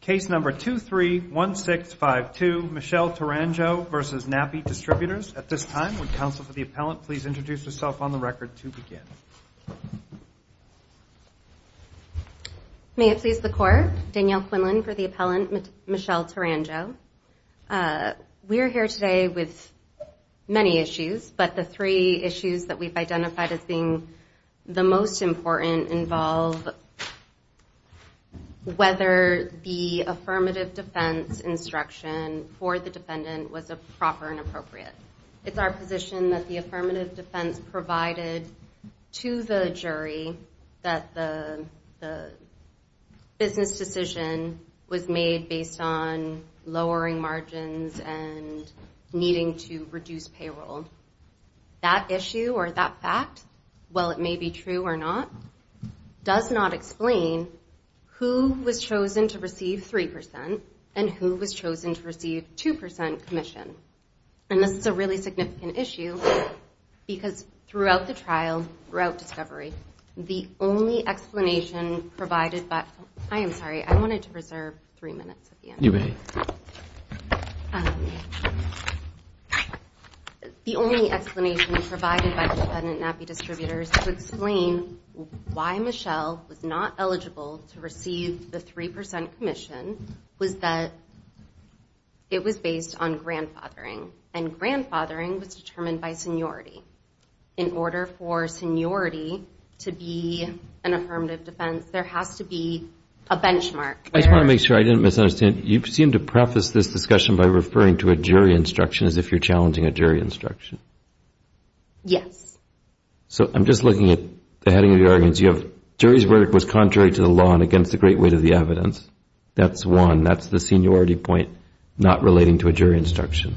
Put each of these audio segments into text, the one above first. Case number 231652, Michelle Turangeau v. Nappi Distributors At this time, would counsel for the appellant please introduce herself on the record to begin. May it please the Court, Danielle Quinlan for the appellant, Michelle Turangeau We are here today with many issues, but the three issues that we've identified as being the most important involve whether the affirmative defense instruction for the defendant was proper and appropriate. It's our position that the affirmative defense provided to the jury that the business decision was made based on lowering margins and needing to reduce payroll. That issue or that fact, while it may be true or not, does not explain who was chosen to receive 3% and who was chosen to receive 2% commission. And this is a really significant issue because throughout the trial, throughout discovery, the only explanation provided by, I am sorry, I wanted to reserve three minutes at the end. The only explanation provided by the defendant, Nappi Distributors, to explain why Michelle was not eligible to receive the 3% commission was that it was based on grandfathering, and grandfathering was determined by seniority. In order for seniority to be an affirmative defense, there has to be a benchmark. I just want to make sure I didn't misunderstand. You seem to preface this discussion by referring to a jury instruction as if you're challenging a jury instruction. Yes. So I'm just looking at the heading of the arguments. You have jury's verdict was contrary to the law and against the great weight of the evidence. That's one. That's the seniority point, not relating to a jury instruction.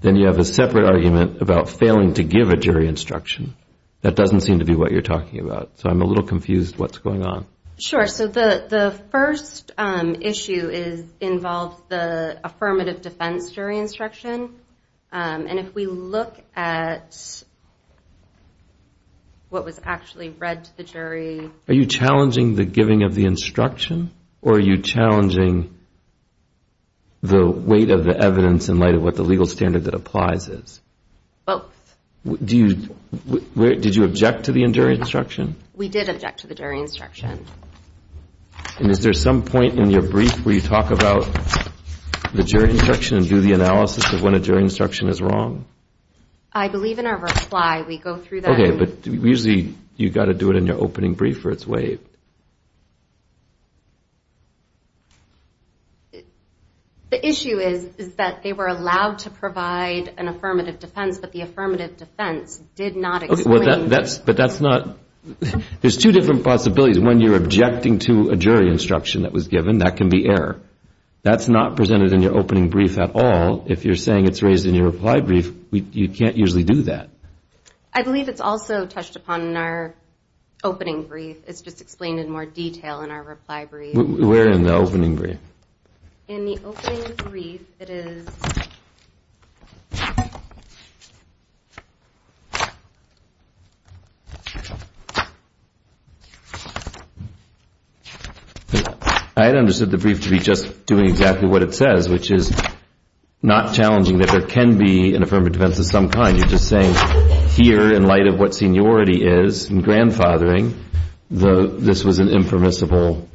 Then you have a separate argument about failing to give a jury instruction. That doesn't seem to be what you're talking about. So I'm a little confused what's going on. Sure. So the first issue involves the affirmative defense jury instruction. And if we look at what was actually read to the jury... Are you challenging the giving of the instruction, or are you challenging the weight of the evidence in light of what was actually read to the jury? Or are you challenging what the legal standard that applies is? Both. Did you object to the jury instruction? We did object to the jury instruction. Is there some point in your brief where you talk about the jury instruction and do the analysis of when a jury instruction is wrong? I believe in our reply. Okay, but usually you've got to do it in your opening brief or it's waived. The issue is that they were allowed to provide an affirmative defense, but the affirmative defense did not explain... But that's not... There's two different possibilities. When you're objecting to a jury instruction that was given, that can be error. That's not presented in your opening brief at all. If you're saying it's raised in your reply brief, you can't usually do that. I believe it's also touched upon in our opening brief. It's just explained in more detail in our reply brief. Where in the opening brief? In the opening brief, it is... You're just doing exactly what it says, which is not challenging that there can be an affirmative defense of some kind. You're just saying here in light of what seniority is and grandfathering, this was an impermissible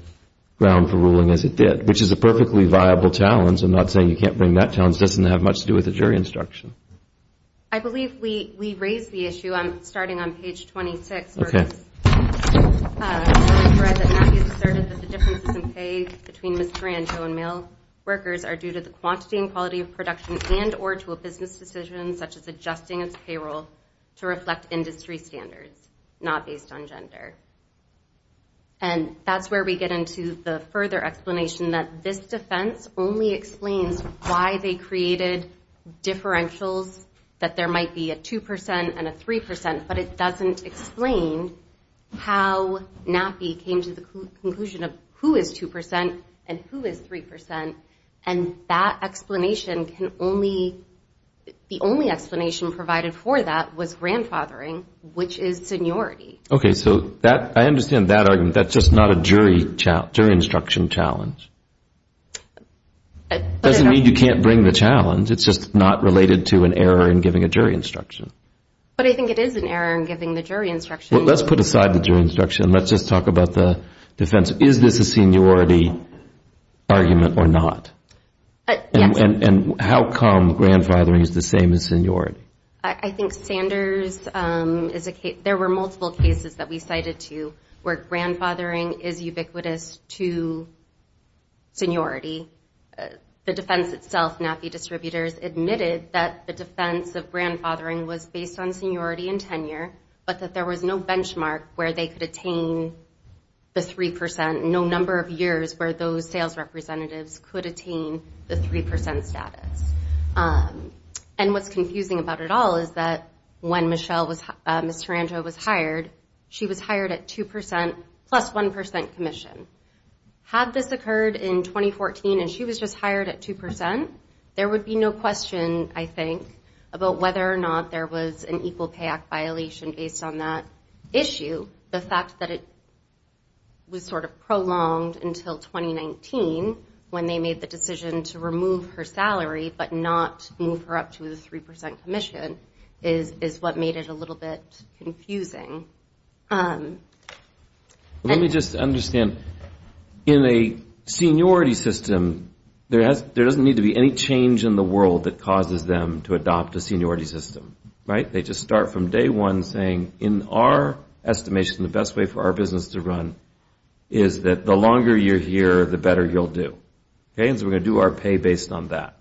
ground for ruling as it did, which is a perfectly viable challenge. I'm not saying you can't bring that challenge. It doesn't have much to do with the jury instruction. I believe we raised the issue. I'm starting on page 26. Matthews asserted that the differences in pay between miscarriage and male workers are due to the quantity and quality of production and or to a business decision such as adjusting its payroll to reflect industry standards, not based on gender. And that's where we get into the further explanation that this defense only explains why they created differentials that there might be a 2% and a 3%, but it doesn't explain how NAPI came to the conclusion of who is 2% and who is 3%. And that explanation can only... The only explanation provided for that was grandfathering, which is seniority. Okay, so I understand that argument. That's just not a jury instruction challenge. It doesn't mean you can't bring the challenge. It's just not related to an error in giving a jury instruction. But I think it is an error in giving the jury instruction. Let's put aside the jury instruction and let's just talk about the defense. Is this a seniority argument or not? Yes. And how come grandfathering is the same as seniority? I think Sanders is a case... There were multiple cases that we cited to where grandfathering is ubiquitous to seniority. The defense itself, NAPI distributors admitted that the defense of grandfathering was based on seniority and tenure, but that there was no benchmark where they could attain the 3%, no number of years where those sales representatives could attain the 3% status. And what's confusing about it all is that when Ms. Taranto was hired, she was hired at 2% plus 1% commission. Had this occurred in 2014 and she was just hired at 2%, there would be no question, I think, about whether or not there was an Equal Pay Act violation based on that issue. The fact that it was sort of prolonged until 2019 when they made the decision to remove her salary, but not move her up to the 3% commission is what made it a little bit confusing. Let me just understand. In a seniority system, there doesn't need to be any change in the world that causes them to adopt a seniority system, right? They just start from day one saying, in our estimation, the best way for our business to run is that the longer you're here, the better you'll do. And so we're going to do our pay based on that.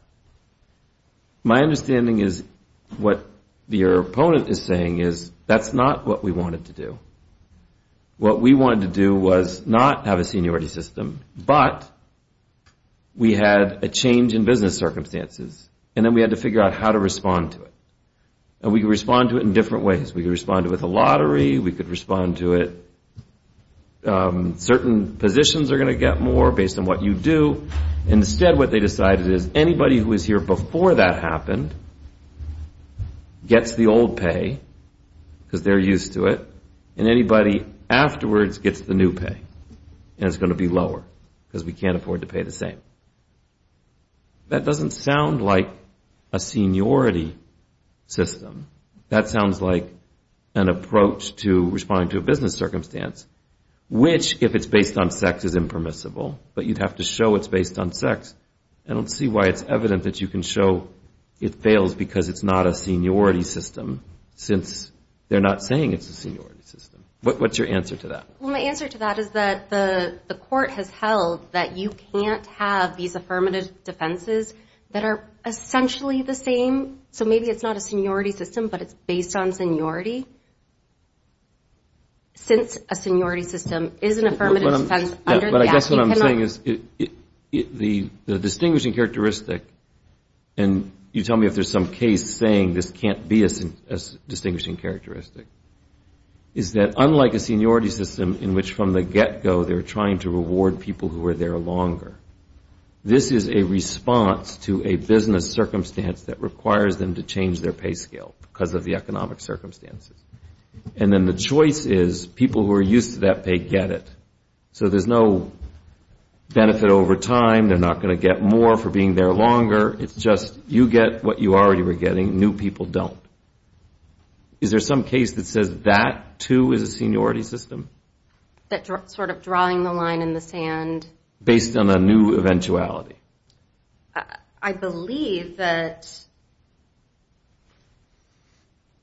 My understanding is what your opponent is saying is that's not what we wanted to do. What we wanted to do was not have a seniority system, but we had a change in business circumstances, and then we had to figure out how to respond to it. And we could respond to it in different ways. We could respond to it with a lottery. Certain positions are going to get more based on what you do. Instead, what they decided is anybody who was here before that happened gets the old pay because they're used to it, and anybody afterwards gets the new pay, and it's going to be lower because we can't afford to pay the same. That doesn't sound like a seniority system. That sounds like an approach to responding to a business circumstance, which, if it's based on sex, is impermissible, but you'd have to show it's based on sex. I don't see why it's evident that you can show it fails because it's not a seniority system, since they're not saying it's a seniority system. What's your answer to that? Well, my answer to that is that the court has held that you can't have these affirmative defenses that are essentially the same. So maybe it's not a seniority system, but it's based on seniority, since a seniority system is an affirmative defense under the Act. But I guess what I'm saying is the distinguishing characteristic, and you tell me if there's some case saying this can't be a distinguishing characteristic, is that unlike a seniority system in which from the get-go they're trying to reward people who are there longer, this is a response to a business circumstance that requires them to change their pay scale because of the economic circumstances. And then the choice is people who are used to that pay get it. So there's no benefit over time, they're not going to get more for being there longer, it's just you get what you already were getting, new people don't. Is there some case that says that, too, is a seniority system? Sort of drawing the line in the sand. Based on a new eventuality. I believe that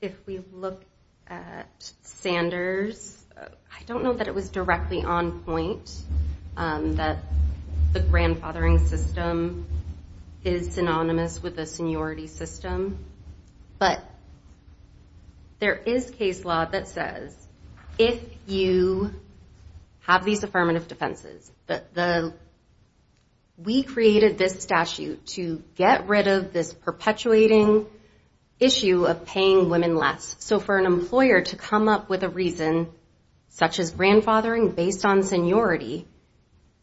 if we look at Sanders, I don't know that it was directly on point, that the grandfathering system is synonymous with a seniority system, but there is case law that says if you have these affirmative defenses, we created this statute to get rid of this perpetuating issue of paying women less. So for an employer to come up with a reason such as grandfathering based on seniority,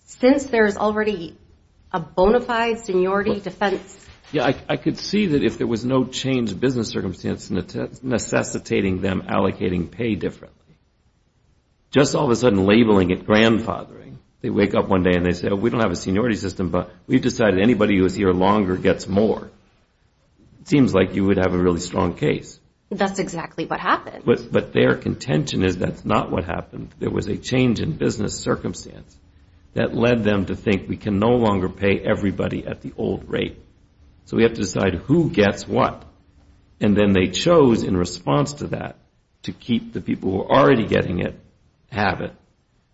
since there's already a bona fide seniority defense. I could see that if there was no change in business circumstance necessitating them allocating pay differently, just all of a sudden labeling it grandfathering, they wake up one day and they say, we don't have a seniority system, but we've decided anybody who is here longer gets more. It seems like you would have a really strong case. But their contention is that's not what happened, there was a change in business circumstance that led them to think we can no longer pay everybody at the old rate, so we have to decide who gets what. And then they chose in response to that to keep the people who are already getting it, have it,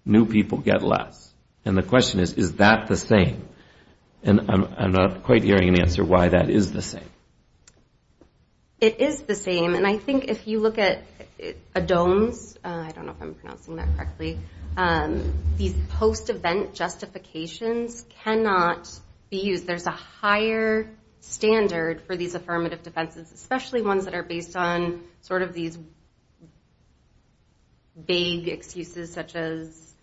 new people get less. And the question is, is that the same? And I'm not quite hearing an answer why that is the same. It is the same, and I think if you look at ADOMES, I don't know if I'm pronouncing that correctly, these post-event justifications cannot be used. There's a higher standard for these affirmative defenses, especially ones that are based on sort of these vague excuses such as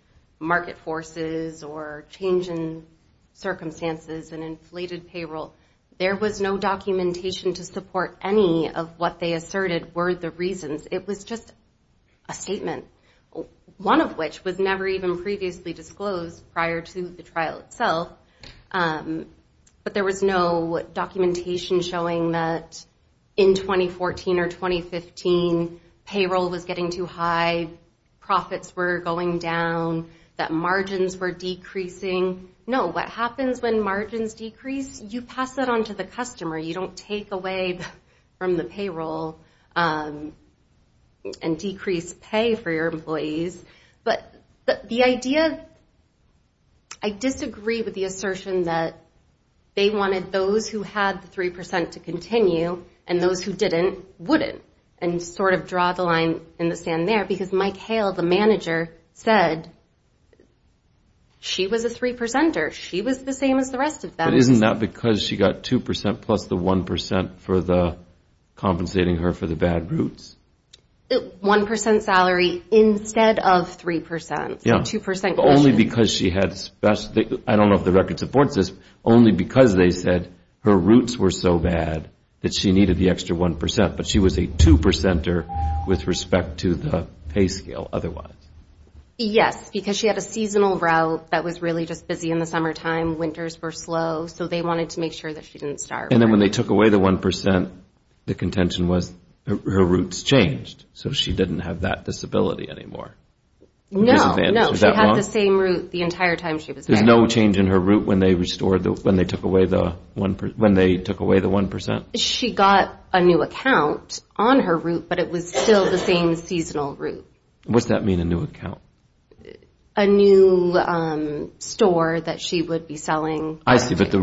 market forces or change in circumstances and inflated payroll. There was no documentation to support any of what they asserted were the reasons. It was just a statement, one of which was never even previously disclosed prior to the trial itself. But there was no documentation showing that in 2014 or 2015, payroll was getting too high, profits were going down, that margins were decreasing. No, what happens when margins decrease, you pass that on to the customer. You don't take away from the payroll and decrease pay for your employees. But the idea, I disagree with the assertion that they wanted those who had the 3% to continue and those who didn't, wouldn't, and sort of draw the line in the sand there. Because Mike Hale, the manager, said she was a 3%er, she was the same as the rest of them. But isn't that because she got 2% plus the 1% for compensating her for the bad roots? 1% salary instead of 3%, 2% question. I don't know if the record supports this, only because they said her roots were so bad that she needed the extra 1%, but she was a 2%er with respect to the pay scale otherwise. Yes, because she had a seasonal route that was really just busy in the summertime, winters were slow, so they wanted to make sure that she didn't starve. And then when they took away the 1%, the contention was her roots changed, so she didn't have that disability anymore. No, no, she had the same root the entire time she was married. There was no change in her root when they took away the 1%? She got a new account on her root, but it was still the same seasonal root. What does that mean, a new account? A new store that she would be selling. I see, but they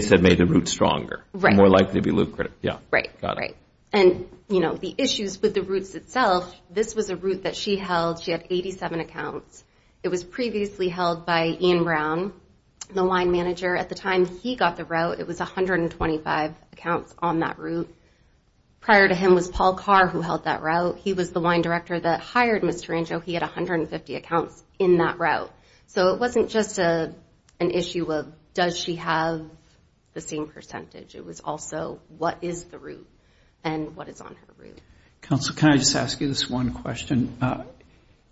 said made the root stronger, more likely to be lucrative. Right, and the issues with the roots itself, this was a root that she held, she had 87 accounts, it was previously held by Ian Brown, the wine manager. At the time he got the route, it was 125 accounts on that route. Prior to him was Paul Carr who held that route, he was the wine director that hired Ms. Tarango, he had 150 accounts in that route. So it wasn't just an issue of does she have the same percentage, it was also what is the root and what is on her root. Counsel, can I just ask you this one question?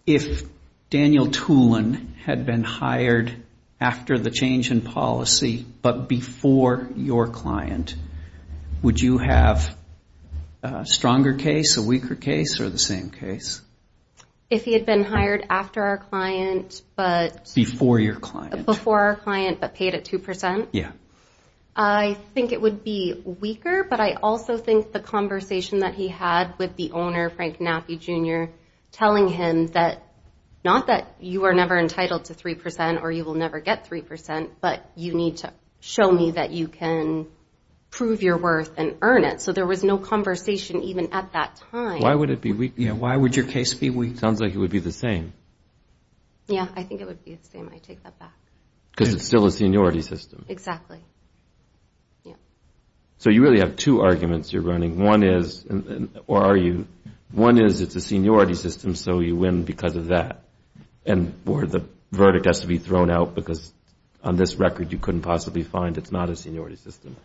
If Daniel Tulin had been hired after the change in policy, but before your client, would you have a stronger case, a weaker case, or the same case? If he had been hired after our client, but... Before your client. Before our client, but paid at 2%? Yeah. I think it would be weaker, but I also think the conversation that he had with the owner, Frank Naffi Jr., telling him that not that you are never entitled to 3% or you will never get 3%, but you need to show me that you can prove your worth and earn it. So there was no conversation even at that time. Sounds like it would be the same. Yeah, I think it would be the same. I take that back. Because it's still a seniority system. So you really have two arguments you're running. One is it's a seniority system, so you win because of that, or the verdict has to be thrown out because on this record you couldn't possibly find it's not a seniority system.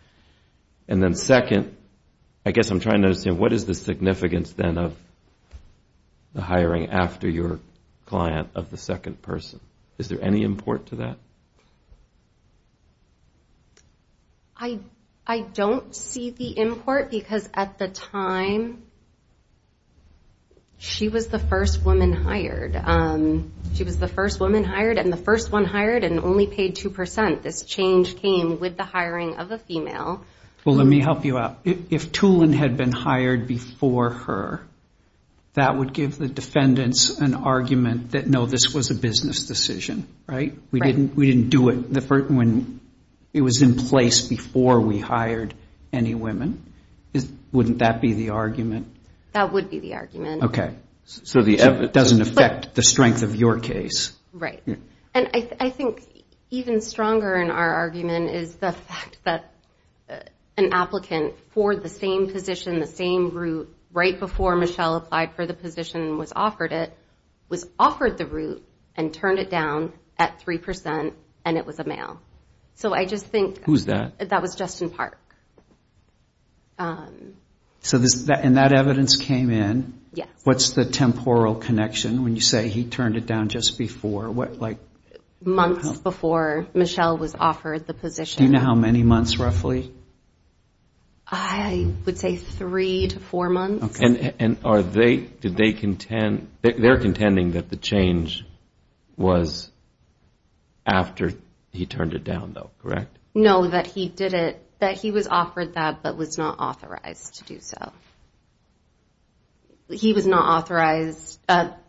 And then second, I guess I'm trying to understand, what is the significance then of the hiring after your client of the second person? Is there any import to that? I don't see the import, because at the time she was the first woman hired. And the first one hired and only paid 2%. This change came with the hiring of a female. Well, let me help you out. If Tulin had been hired before her, that would give the defendants an argument that, no, this was a business decision, right? We didn't do it when it was in place before we hired any women. Wouldn't that be the argument? So it doesn't affect the strength of your case. I think even stronger in our argument is the fact that an applicant for the same position, the same route, right before Michelle applied for the position and was offered it, was offered the route and turned it down at 3% and it was a male. So I just think that was Justin Park. And that evidence came in. What's the temporal connection when you say he turned it down just before? Months before Michelle was offered the position. Do you know how many months roughly? I would say three to four months. And they're contending that the change was after he turned it down, though, correct? No, that he did it, that he was offered that but was not authorized to do so.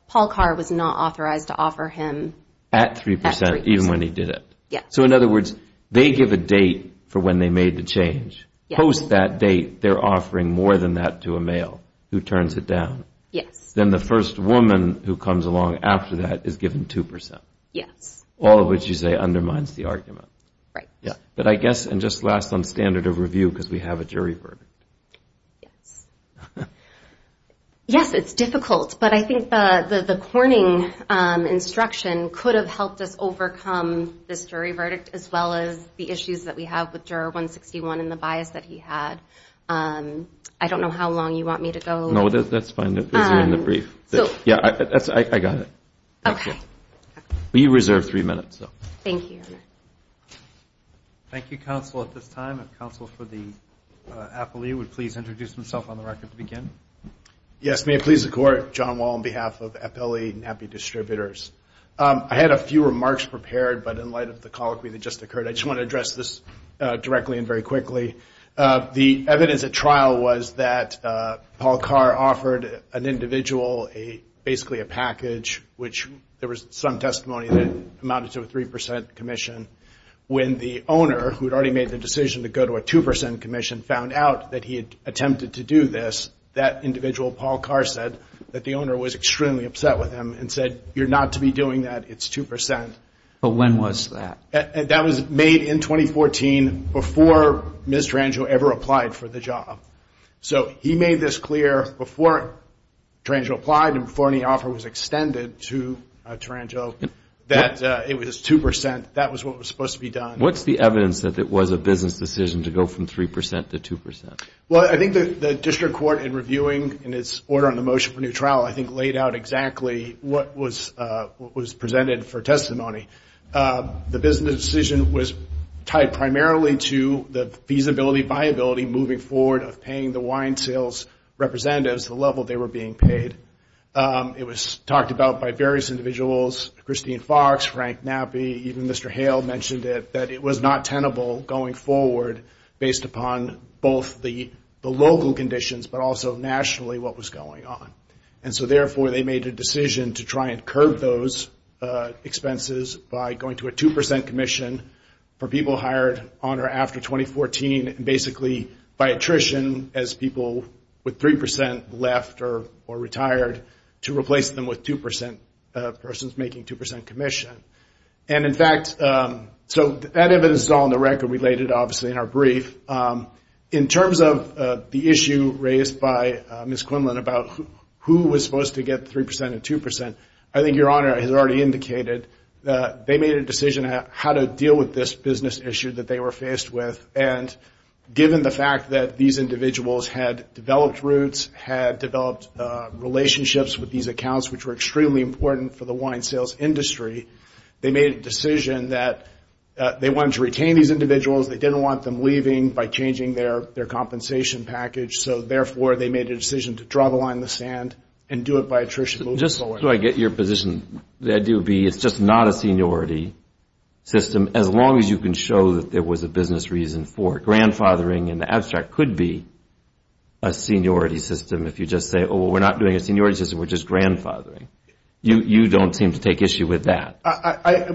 Paul Carr was not authorized to offer him at 3% even when he did it. So in other words, they give a date for when they made the change. Post that date, they're offering more than that to a male who turns it down. Then the first woman who comes along after that is given 2%. All of which you say undermines the argument. But I guess, and just last on standard of review because we have a jury verdict. Yes. Yes, it's difficult. But I think the corning instruction could have helped us overcome this jury verdict as well as the issues that we have with juror 161 and the bias that he had. I don't know how long you want me to go. No, that's fine. Yeah, I got it. You reserve three minutes, though. Thank you. Yes, may it please the Court. John Wall on behalf of Appellee and Happy Distributors. I had a few remarks prepared, but in light of the colloquy that just occurred, I just want to address this directly and very quickly. The evidence at trial was that Paul Carr offered an individual basically a package, which there was some testimony that amounted to a 3% commission. When the owner, who had already made the decision to go to a 2% commission, found out that he had attempted to do this, that individual, Paul Carr, said that the owner was extremely upset with him and said, you're not to be doing that, it's 2%. But when was that? That was made in 2014 before Ms. Tarangio ever applied for the job. So he made this clear before Tarangio applied and before any offer was extended to Tarangio that it was 2%. That was what was supposed to be done. What's the evidence that it was a business decision to go from 3% to 2%? Well, I think the district court, in reviewing in its order on the motion for new trial, I think laid out exactly what was presented for testimony. The business decision was tied primarily to the feasibility, viability, moving forward of paying the wine sales representatives the level they were being paid. It was talked about by various individuals, Christine Fox, Frank Knappi, even Mr. Hale mentioned it, that it was not tenable going forward based upon both the local conditions, but also nationally what was going on. And so therefore they made a decision to try and curb those expenses by going to a 2% commission for people hired on by attrition as people with 3% left or retired, to replace them with 2% persons making 2% commission. And in fact, so that evidence is all in the record, we laid it obviously in our brief. In terms of the issue raised by Ms. Quinlan about who was supposed to get 3% and 2%, I think Your Honor has already indicated that they made a decision on how to deal with this business issue that they were faced with, and given the fact that these individuals had developed routes, had developed relationships with these accounts which were extremely important for the wine sales industry, they made a decision that they wanted to retain these individuals, they didn't want them leaving by changing their compensation package, so therefore they made a decision to draw the line in the sand and do it by attrition. Just so I get your position, the idea would be it's just not a seniority system, as long as you can show that there was a business reason for it. Grandfathering in the abstract could be a seniority system if you just say, oh, we're not doing a seniority system, we're just grandfathering. You don't seem to take issue with that.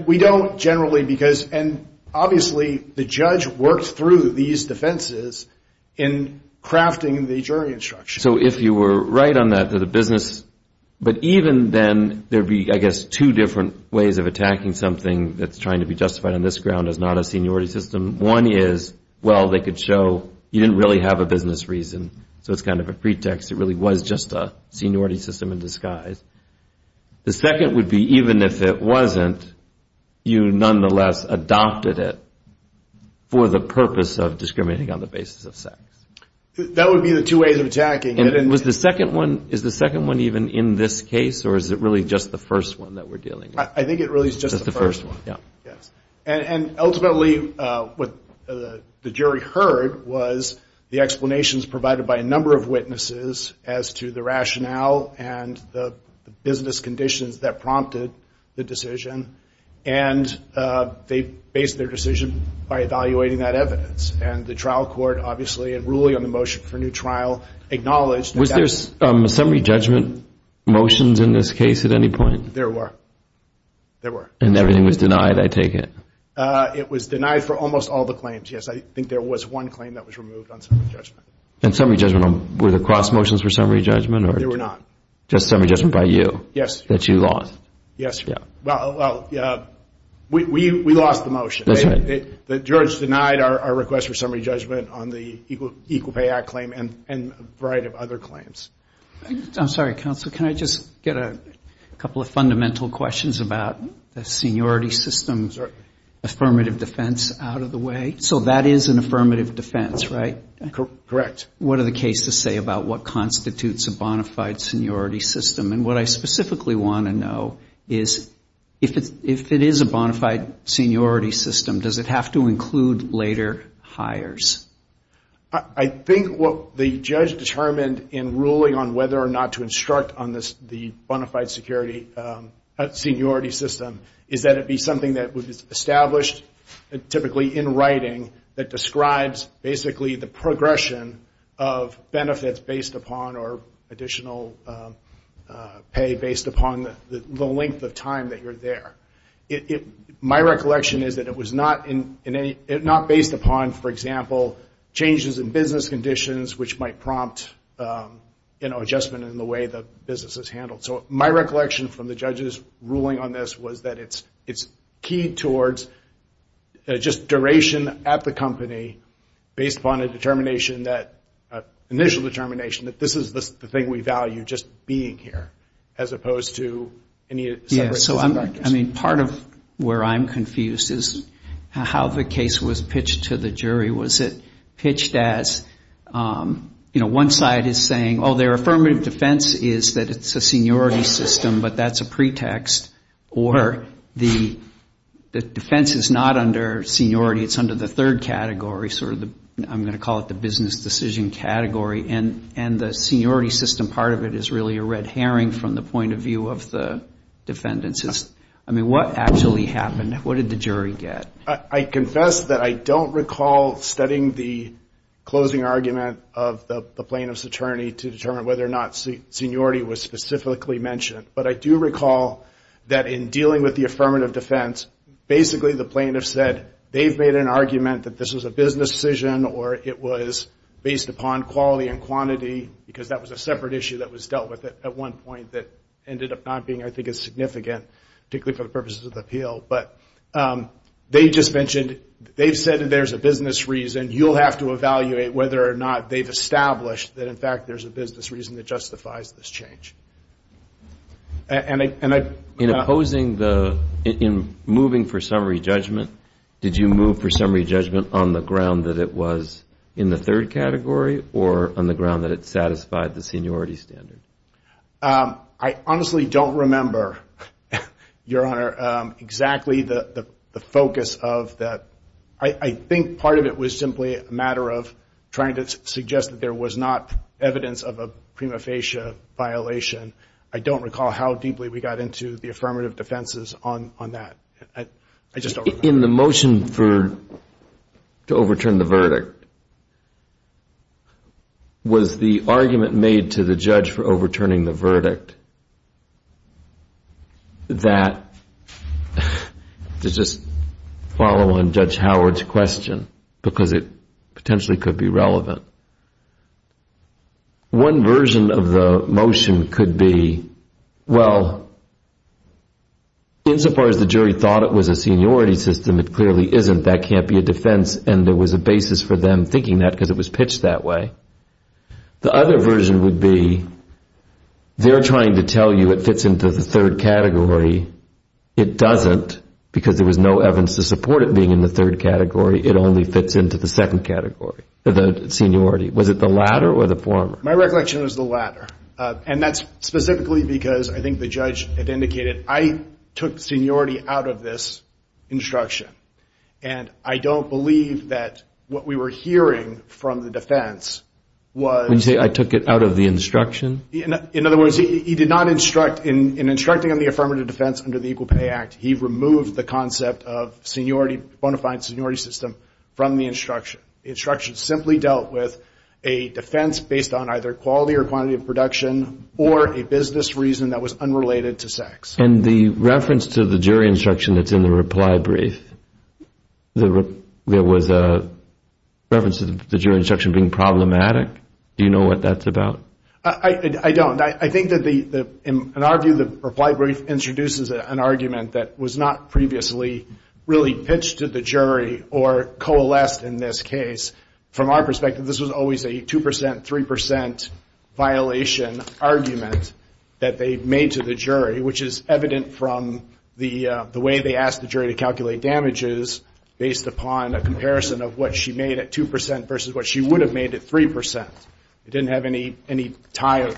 We don't generally because, and obviously the judge worked through these defenses in crafting the jury instruction. So if you were right on that, that the business, but even then there would be, I guess, two different ways of attacking something that's trying to be justified on this ground as not a seniority system. One is, well, they could show you didn't really have a business reason, so it's kind of a pretext, it really was just a seniority system in disguise. The second would be even if it wasn't, you nonetheless adopted it for the purpose of discriminating on the basis of sex. That would be the two ways of attacking it. And is the second one even in this case, or is it really just the first one that we're dealing with? I think it really is just the first one. And ultimately what the jury heard was the explanations provided by a number of witnesses as to the rationale and the business conditions that prompted the decision, and they based their decision by evaluating that evidence. And the trial court, obviously, in ruling on the motion for a new trial, acknowledged... Was there summary judgment motions in this case at any point? There were. And everything was denied, I take it? It was denied for almost all the claims, yes. I think there was one claim that was removed on summary judgment. And summary judgment, were the cross motions for summary judgment? They were not. Well, we lost the motion. The judge denied our request for summary judgment on the Equal Pay Act claim and a variety of other claims. I'm sorry, counsel, can I just get a couple of fundamental questions about the seniority system affirmative defense out of the way? So that is an affirmative defense, right? That is a bona fide seniority system. And what I specifically want to know is if it is a bona fide seniority system, does it have to include later hires? I think what the judge determined in ruling on whether or not to instruct on the bona fide seniority system, is that it be something that was established typically in writing that describes basically the progression of benefits based upon or additional pay based upon the length of time that you're there. My recollection is that it was not based upon, for example, changes in business conditions, which might prompt adjustment in the way the business is handled. So my recollection from the judge's ruling on this was that it's keyed towards just duration at the company based upon an initial determination that this is the thing we value, just being here, as opposed to any separation of practice. Yeah, so part of where I'm confused is how the case was pitched to the jury. Was it pitched as, you know, one side is saying, oh, their affirmative defense is that it's a seniority system, but that's a pretext, or the defense is not under seniority, it's under the third category. I'm going to call it the business decision category, and the seniority system part of it is really a red herring from the point of view of the defendants. I mean, what actually happened? What did the jury get? I confess that I don't recall studying the closing argument of the plaintiff's attorney to determine whether or not seniority was specifically mentioned. But I do recall that in dealing with the affirmative defense, basically the plaintiff said, they've made an argument that this was a business decision, or it was based upon quality and quantity, because that was a separate issue that was dealt with at one point that ended up not being, I think, as significant, particularly for the purposes of the appeal. But they just mentioned, they've said that there's a business reason. You'll have to evaluate whether or not they've established that, in fact, there's a business reason that justifies this change. In opposing the, in moving for summary judgment, did you move for summary judgment on the ground that it was in the third category, or on the ground that it satisfied the seniority standard? I honestly don't remember, Your Honor, exactly the focus of that. I think part of it was simply a matter of trying to suggest that there was not evidence of a prima facie violation, I don't recall how deeply we got into the affirmative defenses on that. I just don't recall. In the motion for, to overturn the verdict, was the argument made to the judge for overturning the verdict that, to just follow on Judge Howard's question, because it potentially could be relevant, one version of the motion could be, well, insofar as the jury thought it was a seniority system, it clearly isn't, that can't be a defense, and there was a basis for them thinking that because it was pitched that way. The other version would be, they're trying to tell you it fits into the third category, it doesn't, because there was no evidence to support it being in the third category, it only fits into the second category, the seniority, was it the latter or the former? My recollection is the latter, and that's specifically because I think the judge had indicated, I took seniority out of this instruction, and I don't believe that what we were hearing from the defense was... When you say I took it out of the instruction? In other words, he did not instruct, in instructing on the affirmative defense under the Equal Pay Act, he did not take any criticism from the instruction, the instruction simply dealt with a defense based on either quality or quantity of production, or a business reason that was unrelated to sex. And the reference to the jury instruction that's in the reply brief, there was a reference to the jury instruction being problematic, do you know what that's about? I don't, I think in our view the reply brief introduces an argument that was not previously really pitched to the jury, or coalesced in this case, from our perspective this was always a 2%, 3% violation argument that they made to the jury, which is evident from the way they asked the jury to calculate damages based upon a comparison of what she made at 2% versus what she would have made at 3%. It didn't have any tie,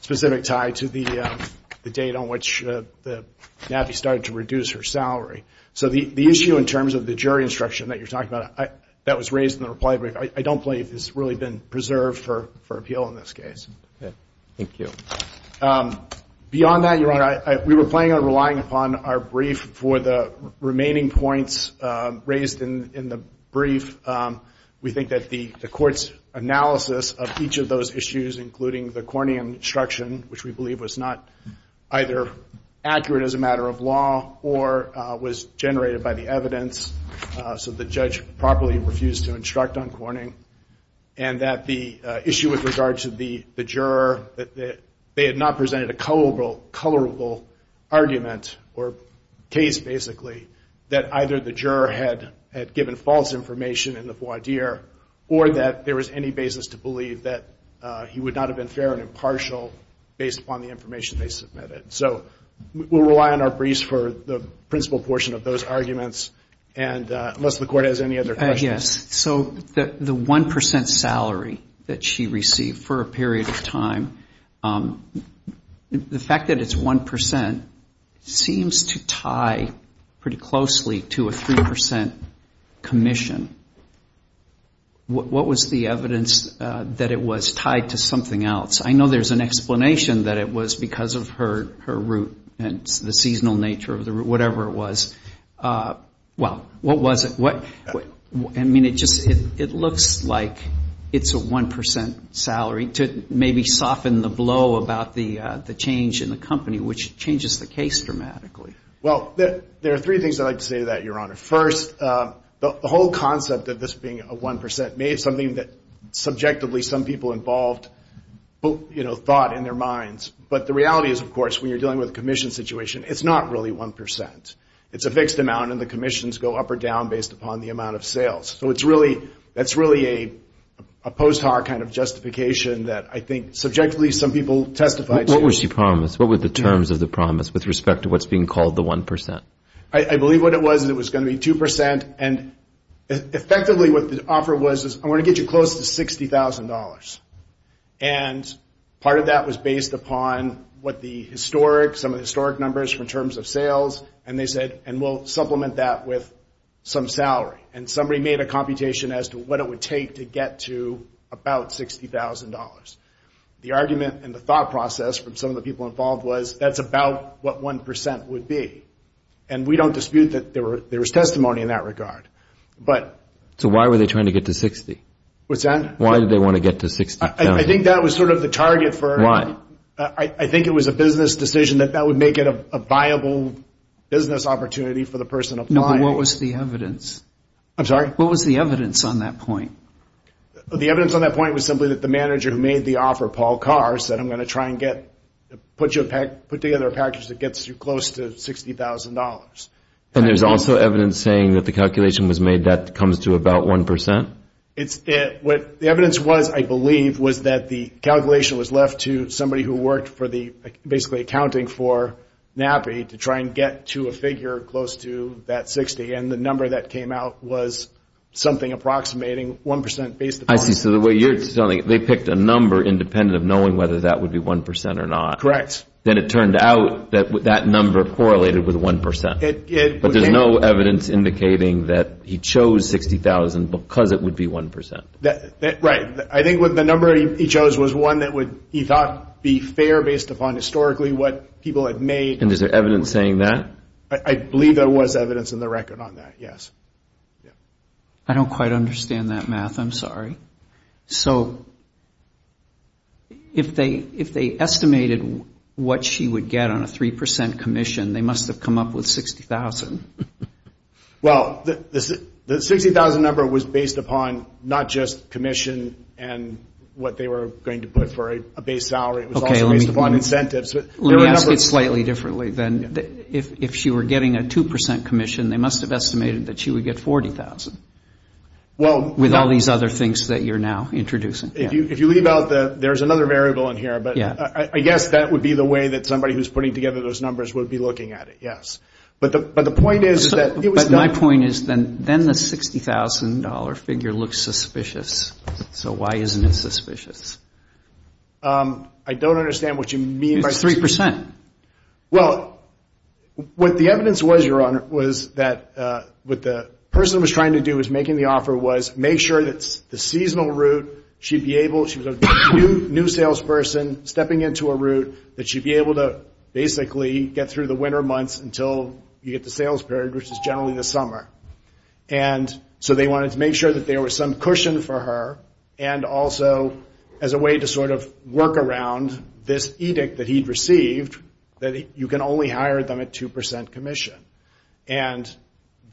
specific tie to the date on which the NAPI started to reduce her salary. So the issue in terms of the jury instruction that you're talking about, that was raised in the reply brief, I don't believe it's really been preserved for appeal in this case. Thank you. Beyond that, Your Honor, we were planning on relying upon our brief for the remaining points raised in the brief. We think that the court's analysis of each of those issues, including the Corning instruction, which we believe was not either accurate as a matter of law, or was generated by the evidence, so the judge properly refused to instruct on Corning, and that the issue with regard to the juror, that they had not presented a colorable argument, or case basically, that either the juror had given false information in the voir dire, or that there was any basis to believe that he would not have been fair and impartial based upon the information they submitted. So we'll rely on our briefs for the principal portion of those arguments, unless the court has any other questions. Yes. So the 1% salary that she received for a period of time, the fact that it's 1% seems to tie pretty closely to a 3% commission. What was the evidence that it was tied to something else? I know there's an explanation that it was because of her route and the seasonal nature of the route, whatever it was. Well, what was it? I mean, it looks like it's a 1% salary to maybe soften the blow about the change in the company, which changes the case dramatically. Well, there are three things I'd like to say to that, Your Honor. First, the whole concept of this being a 1% may be something that subjectively some people involved thought in their minds. But the reality is, of course, when you're dealing with a commission situation, it's not really 1%. It's a fixed amount, and the commissions go up or down based upon the amount of sales. So that's really a post-har kind of justification that I think subjectively some people testified to. What were the terms of the promise with respect to what's being called the 1%? I believe what it was is it was going to be 2%, and effectively what the offer was is, I want to get you close to $60,000. And part of that was based upon some of the historic numbers from terms of sales, and they said, and we'll supplement that with some salary. And somebody made a computation as to what it would take to get to about $60,000. The argument and the thought process from some of the people involved was, that's about what 1% would be. And we don't dispute that there was testimony in that regard. So why were they trying to get to $60,000? I think it was a business decision that that would make it a viable business opportunity for the person applying. No, but what was the evidence? The evidence on that point was simply that the manager who made the offer, Paul Carr, said, I'm going to try and put together a package that gets you close to $60,000. And there's also evidence saying that the calculation was made that comes to about 1%? The evidence was, I believe, was that the calculation was left to somebody who worked for the, basically accounting for NAPI to try and get to a figure close to that $60,000. And the number that came out was something approximating 1% based upon. I see. So the way you're telling it, they picked a number independent of knowing whether that would be 1% or not. Correct. Then it turned out that that number correlated with 1%. But there's no evidence indicating that he chose $60,000 because it would be 1%. Right. I think the number he chose was one that he thought would be fair based upon historically what people had made. And is there evidence saying that? I don't quite understand that math. I'm sorry. So if they estimated what she would get on a 3% commission, they must have come up with $60,000. Well, the $60,000 number was based upon not just commission and what they were going to put for a base salary. It was also based upon incentives. Let me ask it slightly differently then. If she were getting a 2% commission, they must have estimated that she would get $40,000. With all these other things that you're now introducing. There's another variable in here, but I guess that would be the way that somebody who's putting together those numbers would be looking at it, yes. But my point is then the $60,000 figure looks suspicious. So why isn't it suspicious? I don't understand what you mean. It's 3%. Well, what the evidence was, Your Honor, was that what the person was trying to do was making the offer was make sure that the seasonal route, she'd be able, she was a new salesperson, stepping into a route that she'd be able to basically get through the winter months until you get the sales period, which is generally the summer. And so they wanted to make sure that there was some cushion for her. And also as a way to sort of work around this edict that he'd received, that you can only hire them at 2% commission. And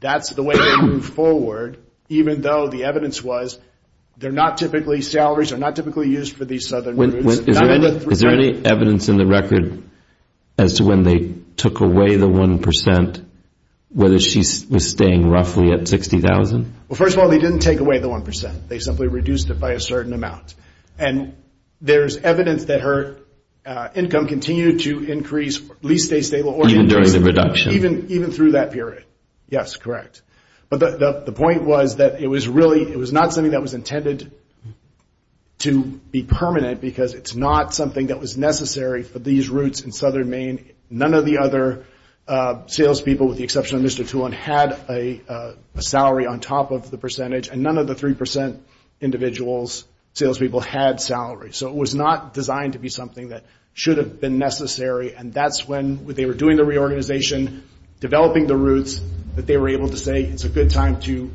that's the way they moved forward, even though the evidence was they're not typically salaries, they're not typically used for these southern routes. Is there any evidence in the record as to when they took away the 1%, whether she was staying roughly at $60,000? Well, first of all, they didn't take away the 1%. They simply reduced it by a certain amount. And there's evidence that her income continued to increase, at least stay stable, even during that period. Yes, correct. But the point was that it was really, it was not something that was intended to be permanent, because it's not something that was necessary for these routes in southern Maine. None of the other salespeople, with the exception of Mr. Toulon, had a salary on top of the percentage. And none of the 3% individuals, salespeople, had salaries. So it was not designed to be something that should have been necessary. And that's when they were doing the reorganization, developing the routes, that they were able to say it's a good time to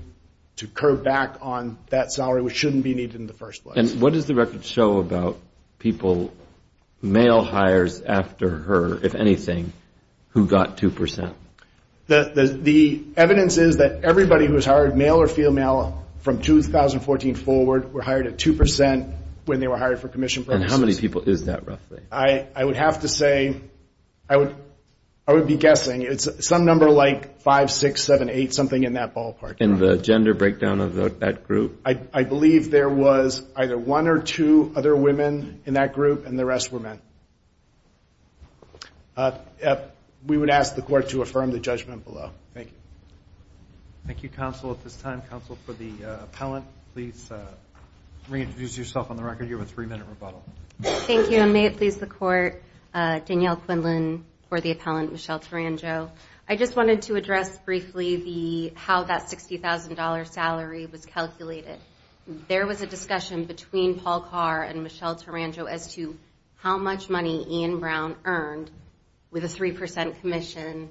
curb back on that salary, which shouldn't be needed in the first place. And what does the record show about people, male hires after her, if anything, who got 2%? The evidence is that everybody who was hired, male or female, from 2014 forward, were hired at 2% when they were hired for commission purposes. And how many people is that, roughly? I would have to say, I would be guessing. It's some number like 5, 6, 7, 8, something in that ballpark. In the gender breakdown of that group? I believe there was either one or two other women in that group, and the rest were men. We would ask the Court to affirm the judgment below. Thank you. Thank you, Counsel. At this time, Counsel for the Appellant, please reintroduce yourself on the record. You have a three-minute rebuttal. I just wanted to address briefly how that $60,000 salary was calculated. There was a discussion between Paul Carr and Michelle Tarango as to how much money Ian Brown earned with a 3% commission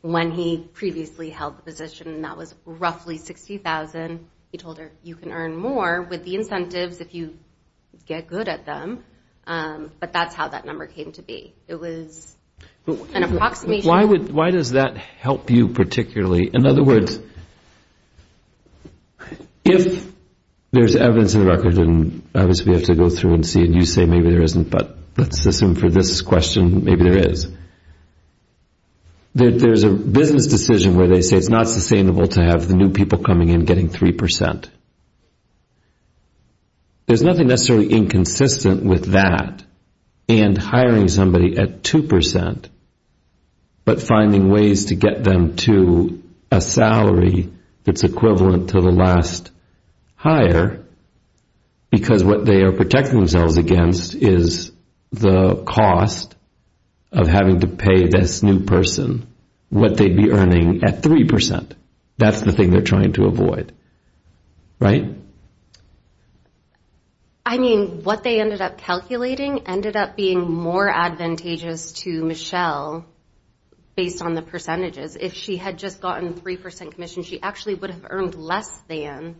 when he previously held the position, and that was roughly $60,000. He told her, you can earn more with the incentives if you get good at them. But that's how that number came to be. Why does that help you particularly? In other words, if there's evidence in the record, and obviously we have to go through and see, and you say maybe there isn't, but let's assume for this question maybe there is, there's a business decision where they say it's not sustainable to have the new people coming in getting 3%. There's nothing necessarily inconsistent with that and hiring somebody at 2%, but finding ways to get them to a salary that's equivalent to the last hire, because what they are protecting themselves against is the cost of having to pay this new person what they'd be earning at 3%. That's the thing they're trying to avoid, right? I mean, what they ended up calculating ended up being more advantageous to Michelle based on the percentages. Because if she had just gotten 3% commission, she actually would have earned less than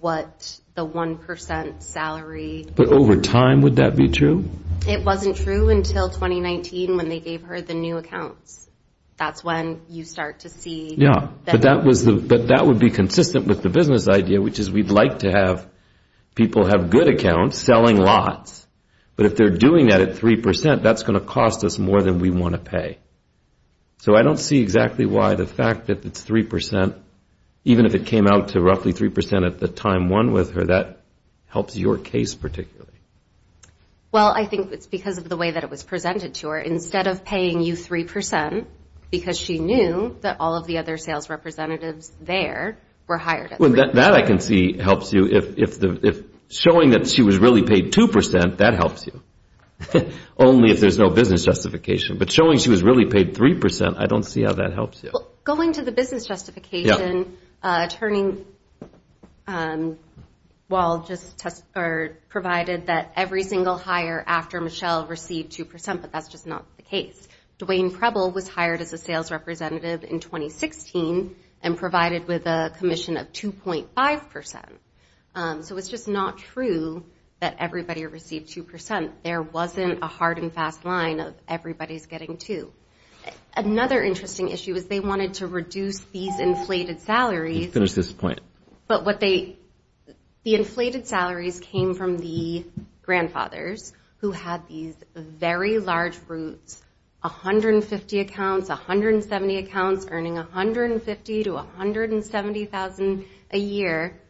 what the 1% salary. But over time, would that be true? It wasn't true until 2019 when they gave her the new accounts. That's when you start to see... Yeah, but that would be consistent with the business idea, which is we'd like to have people have good accounts selling lots, but if they're doing that at 3%, that's going to cost us more than we want to pay. So I don't see exactly why the fact that it's 3%, even if it came out to roughly 3% at the time one with her, that helps your case particularly. Well, I think it's because of the way that it was presented to her. Instead of paying you 3% because she knew that all of the other sales representatives there were hired at 3%. Well, that I can see helps you. If showing that she was really paid 2%, that helps you. Only if there's no business justification. But showing she was really paid 3%, I don't see how that helps you. Well, going to the business justification, turning... Well, just provided that every single hire after Michelle received 2%, but that's just not the case. Dwayne Preble was hired as a sales representative in 2016 and provided with a commission of 2.5%. So it's just not true that everybody received 2%. There wasn't a hard and fast line of everybody's getting 2%. Another interesting issue is they wanted to reduce these inflated salaries. The inflated salaries came from the grandfathers who had these very large roots. 150 accounts, 170 accounts, earning 150 to 170,000 a year.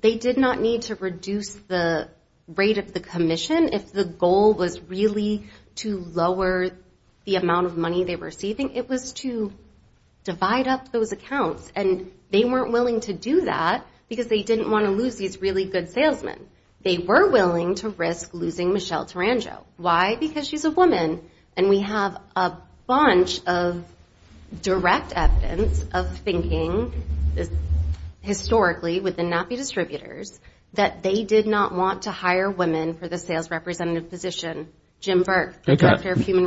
They did not need to reduce the rate of the commission if the goal was really to lower the amount of money they were getting. It was to divide up those accounts and they weren't willing to do that because they didn't want to lose these really good salesmen. They were willing to risk losing Michelle Tarango. Why? Because she's a woman and we have a bunch of direct evidence of thinking historically with the NAPI distributors that they did not want to hire women for the sales representative position. Jim Burke, the director of human resources.